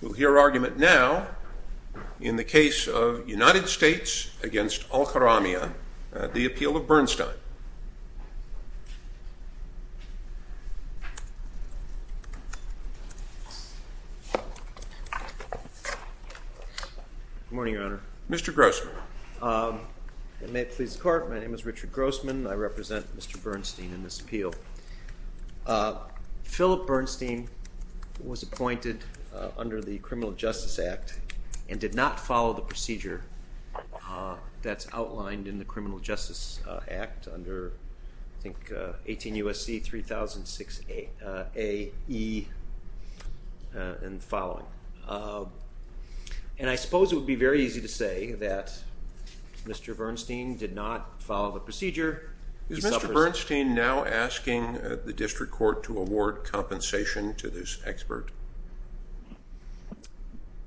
We'll hear argument now in the case of United States v. Alkaramla, the Appeal of Bernstein. Good morning, Your Honor. Mr. Grossman. May it please the Court, my name is Richard Grossman. I represent Mr. Bernstein in this appeal. Philip Bernstein was appointed under the Criminal Justice Act and did not follow the procedure that's outlined in the Criminal Justice Act under, I think, 18 U.S.C. 3006 A.E. and the following. And I suppose it would be very easy to say that Mr. Bernstein did not follow the procedure. Is Mr. Bernstein now asking the District Court to award compensation to this expert?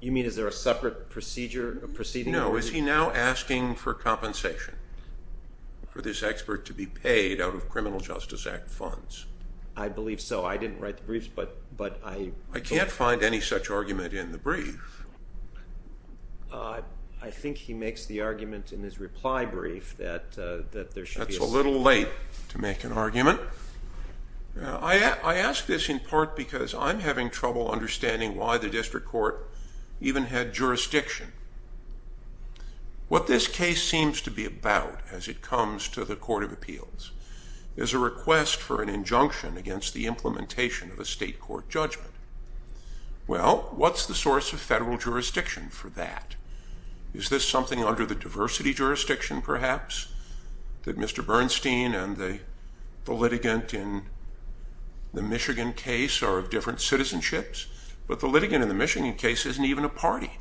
You mean is there a separate procedure, proceeding? No, is he now asking for compensation for this expert to be paid out of Criminal Justice Act funds? I believe so. I didn't write the briefs, but I believe so. I can't find any such argument in the brief. I think he makes the argument in his reply brief that there should be a separate... That's a little late to make an argument. I ask this in part because I'm having trouble understanding why the District Court even had jurisdiction. What this case seems to be about as it comes to the Court of Appeals is a request for an injunction against the implementation of a state court judgment. Well, what's the source of federal jurisdiction for that? Is this something under the diversity jurisdiction, perhaps? That Mr. Bernstein and the litigant in the Michigan case are of different citizenships? But the litigant in the Michigan case isn't even a party.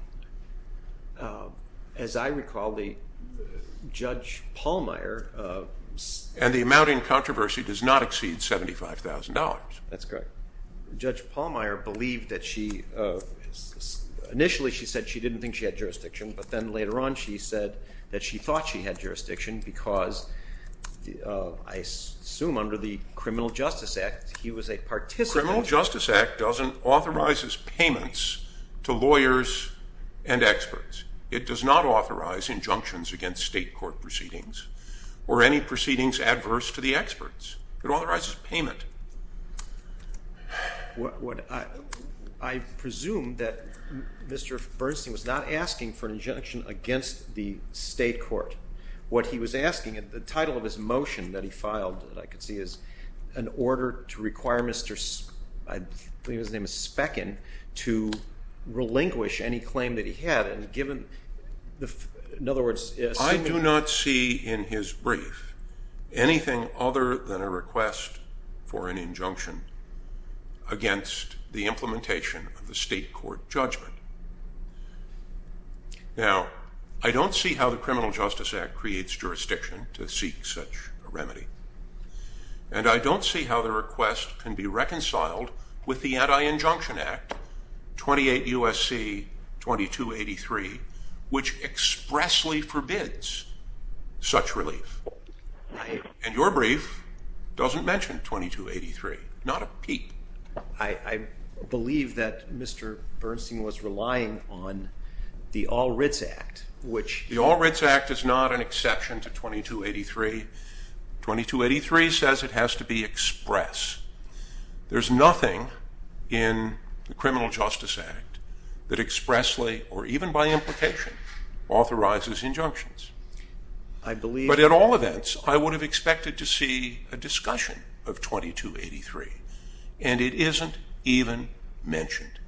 As I recall, Judge Pallmeyer... And the amount in controversy does not exceed $75,000. That's correct. Judge Pallmeyer believed that she... Initially, she said she didn't think she had jurisdiction, but then later on she said that she thought she had jurisdiction because, I assume, under the Criminal Justice Act, he was a participant... Criminal Justice Act doesn't authorize payments to lawyers and experts. It does not authorize injunctions against state court proceedings or any proceedings adverse to the experts. It authorizes payment. I presume that Mr. Bernstein was not asking for an injunction against the state court. What he was asking, the title of his motion that he filed, that I could see, is an order to require Mr. Speckin to relinquish any claim that he had and given... In other words, assuming... I don't see in his brief anything other than a request for an injunction against the implementation of the state court judgment. Now, I don't see how the Criminal Justice Act creates jurisdiction to seek such a remedy. And I don't see how the request can be reconciled with the Anti-Injunction Act, 28 U.S.C. 2283, which expressly forbids such relief. And your brief doesn't mention 2283. Not a peep. I believe that Mr. Bernstein was relying on the All Writs Act, which... 2283 says it has to be express. There's nothing in the Criminal Justice Act that expressly, or even by implication, authorizes injunctions. But at all events, I would have expected to see a discussion of 2283. And it isn't even mentioned.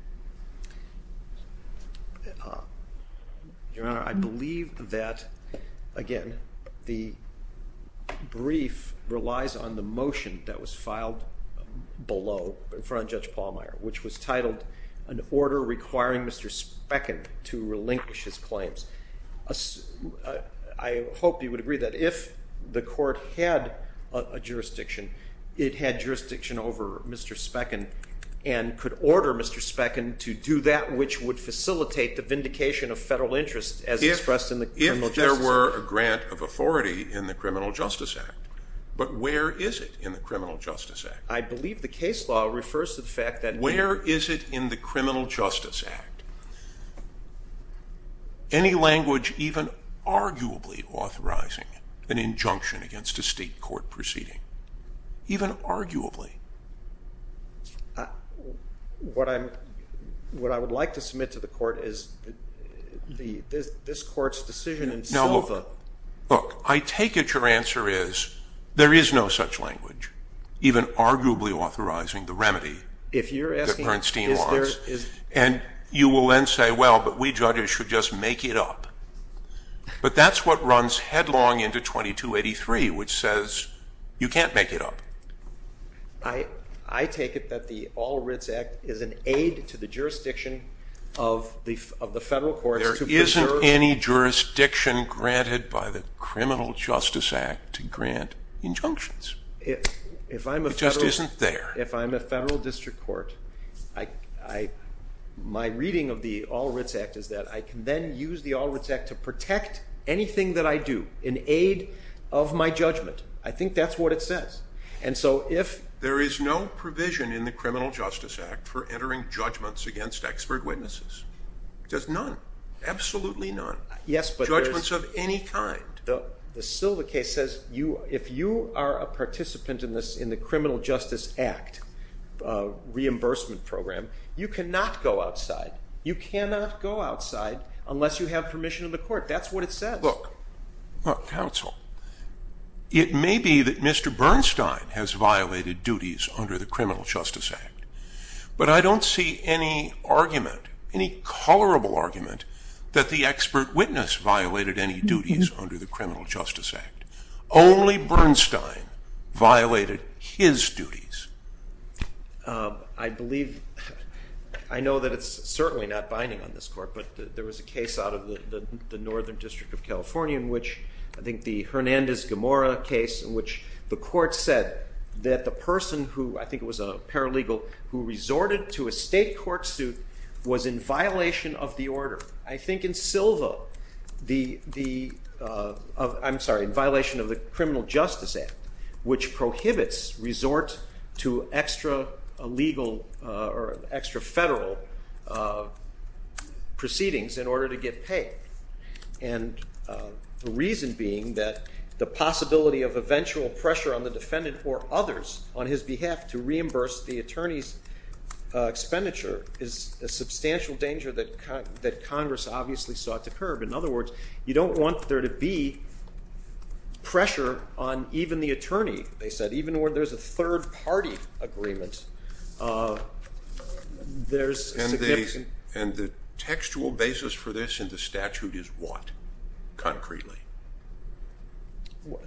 Your Honor, I believe that, again, the brief relies on the motion that was filed below in front of Judge Palmeier, which was titled, An Order Requiring Mr. Speckin to Relinquish His Claims. I hope you would agree that if the court had a jurisdiction, it had jurisdiction over Mr. Speckin, and could order Mr. Speckin to do that which would facilitate the vindication of federal interest as expressed in the Criminal Justice Act. If there were a grant of authority in the Criminal Justice Act. But where is it in the Criminal Justice Act? I believe the case law refers to the fact that... Where is it in the Criminal Justice Act? Any language even arguably authorizing an injunction against a state court proceeding. Even arguably. What I would like to submit to the court is this court's decision in Silva... Look, I take it your answer is, there is no such language, even arguably authorizing the remedy that Bernstein wants. And you will then say, well, but we judges should just make it up. But that's what runs headlong into 2283, which says, you can't make it up. I take it that the All Writs Act is an aid to the jurisdiction of the federal courts to preserve... There isn't any jurisdiction granted by the Criminal Justice Act to grant injunctions. It just isn't there. If I'm a federal district court, my reading of the All Writs Act is that I can then use the All Writs Act to protect anything that I do in aid of my judgment. I think that's what it says. There is no provision in the Criminal Justice Act for entering judgments against expert witnesses. There's none. Absolutely none. Judgments of any kind. The Silva case says, if you are a participant in the Criminal Justice Act reimbursement program, you cannot go outside. You cannot go outside unless you have permission of the court. That's what it says. Look, counsel, it may be that Mr. Bernstein has violated duties under the Criminal Justice Act. But I don't see any argument, any colorable argument, that the expert witness violated any duties under the Criminal Justice Act. Only Bernstein violated his duties. I believe, I know that it's certainly not binding on this court, but there was a case out of the Northern District of California in which, I think the Hernandez-Gamora case, in which the court said that the person who, I think it was a paralegal, who resorted to a state court suit was in violation of the order. I think in Silva, I'm sorry, in violation of the Criminal Justice Act, which prohibits resort to extra-legal or extra-federal proceedings in order to get paid. And the reason being that the possibility of eventual pressure on the defendant or others on his behalf to reimburse the attorney's expenditure is a substantial danger that Congress obviously sought to curb. In other words, you don't want there to be pressure on even the attorney, they said, even where there's a third-party agreement. And the textual basis for this in the statute is what, concretely?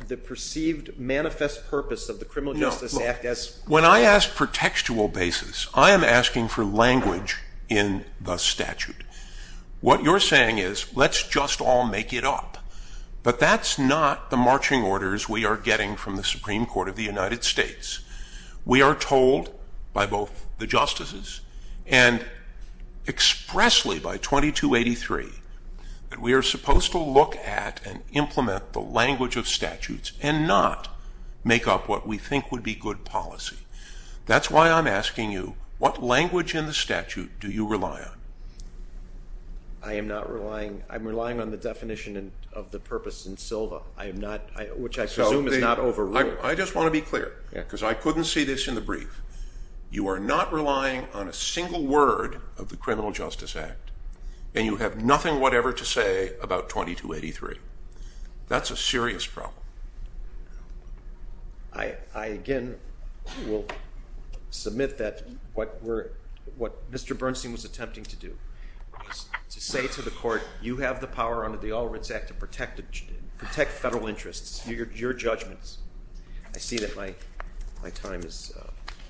The perceived manifest purpose of the Criminal Justice Act. When I ask for textual basis, I am asking for language in the statute. What you're saying is, let's just all make it up. But that's not the marching orders we are getting from the Supreme Court of the United States. We are told by both the justices and expressly by 2283 that we are supposed to look at and implement the language of statutes and not make up what we think would be good policy. That's why I'm asking you, what language in the statute do you rely on? I am not relying, I'm relying on the definition of the purpose in Silva, which I presume is not overruled. I just want to be clear, because I couldn't see this in the brief. You are not relying on a single word of the Criminal Justice Act. And you have nothing whatever to say about 2283. That's a serious problem. I again will submit that what Mr. Bernstein was attempting to do was to say to the court, you have the power under the All Writs Act to protect federal interests, your judgments. I see that my time is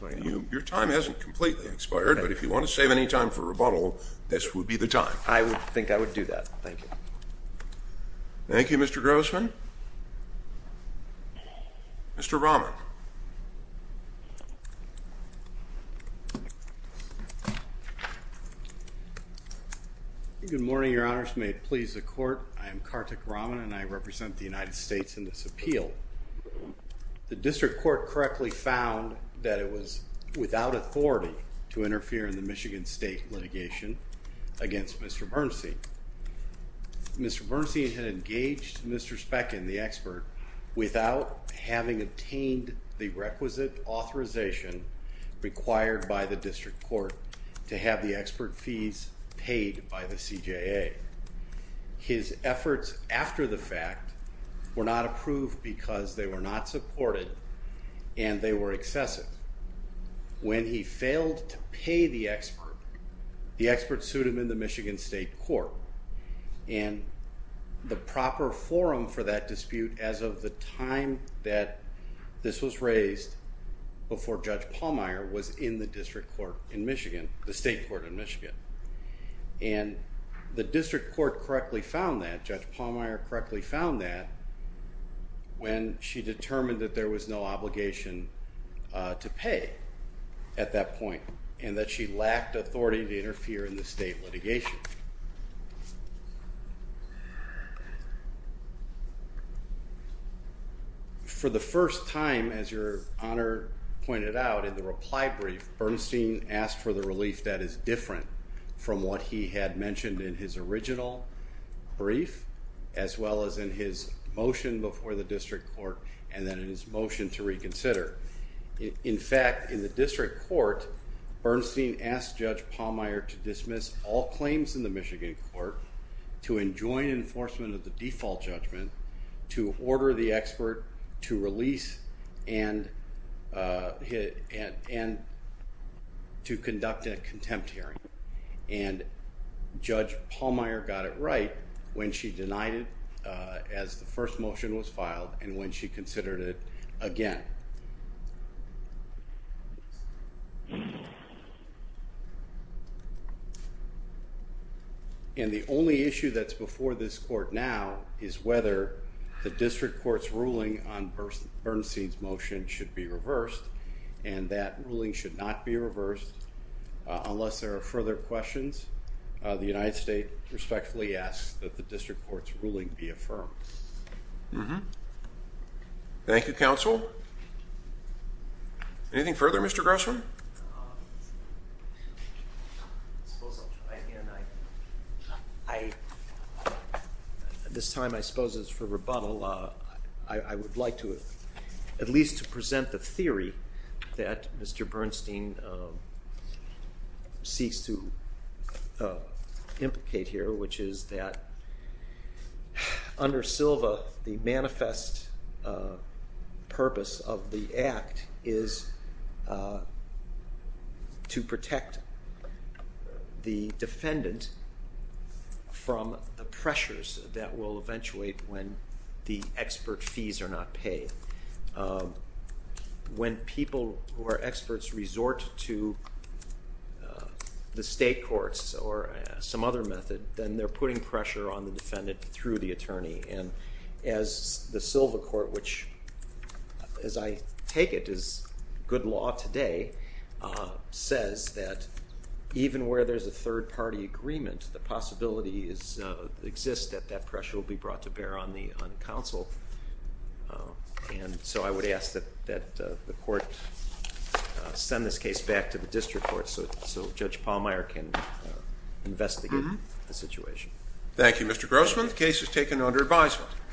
running out. Your time hasn't completely expired, but if you want to save any time for rebuttal, this would be the time. I would think I would do that. Thank you. Thank you, Mr. Grossman. Mr. Rahman. Good morning, Your Honors. May it please the court, I am Kartik Rahman and I represent the United States in this appeal. The district court correctly found that it was without authority to interfere in the Michigan State litigation against Mr. Bernstein. Mr. Bernstein had engaged Mr. Speckin, the expert, without having obtained the requisite authorization required by the district court to have the expert fees paid by the CJA. His efforts after the fact were not approved because they were not supported and they were excessive. When he failed to pay the expert, the expert sued him in the Michigan State Court and the proper forum for that dispute as of the time that this was raised before Judge Pallmeyer was in the district court in Michigan, the state court in Michigan. And the district court correctly found that, Judge Pallmeyer correctly found that when she determined that there was no obligation to pay at that point and that she lacked authority to interfere in the state litigation. For the first time, as Your Honor pointed out in the reply brief, Bernstein asked for the relief that is different from what he had mentioned in his original brief as well as in his motion before the district court and then in his motion to reconsider. In fact, in the district court, Bernstein asked Judge Pallmeyer to dismiss all claims in the Michigan court, to enjoin enforcement of the default judgment, to order the expert to release and to conduct a contempt hearing. And Judge Pallmeyer got it right when she denied it as the first motion was filed and when she considered it again. And the only issue that's before this court now is whether the district court's ruling on Bernstein's motion should be reversed and that ruling should not be reversed unless there are further questions. The United States respectfully asks that the district court's ruling be affirmed. Mm-hmm. Thank you, counsel. Anything further, Mr. Grossman? I suppose I'll try again. This time I suppose it's for rebuttal. I would like to at least present the theory that Mr. Bernstein seeks to implicate here, which is that under Silva, the manifest purpose of the act is to protect the defendant from the pressures that will eventuate when the expert fees are not paid. When people who are experts resort to the state courts or some other method, then they're putting pressure on the defendant through the attorney. And as the Silva court, which as I take it is good law today, says that even where there's a third party agreement, the possibility exists that that pressure will be brought to bear on the counsel. And so I would ask that the court send this case back to the district court so Judge Pallmeyer can investigate the situation. Thank you, Mr. Grossman. The case is taken under advisement.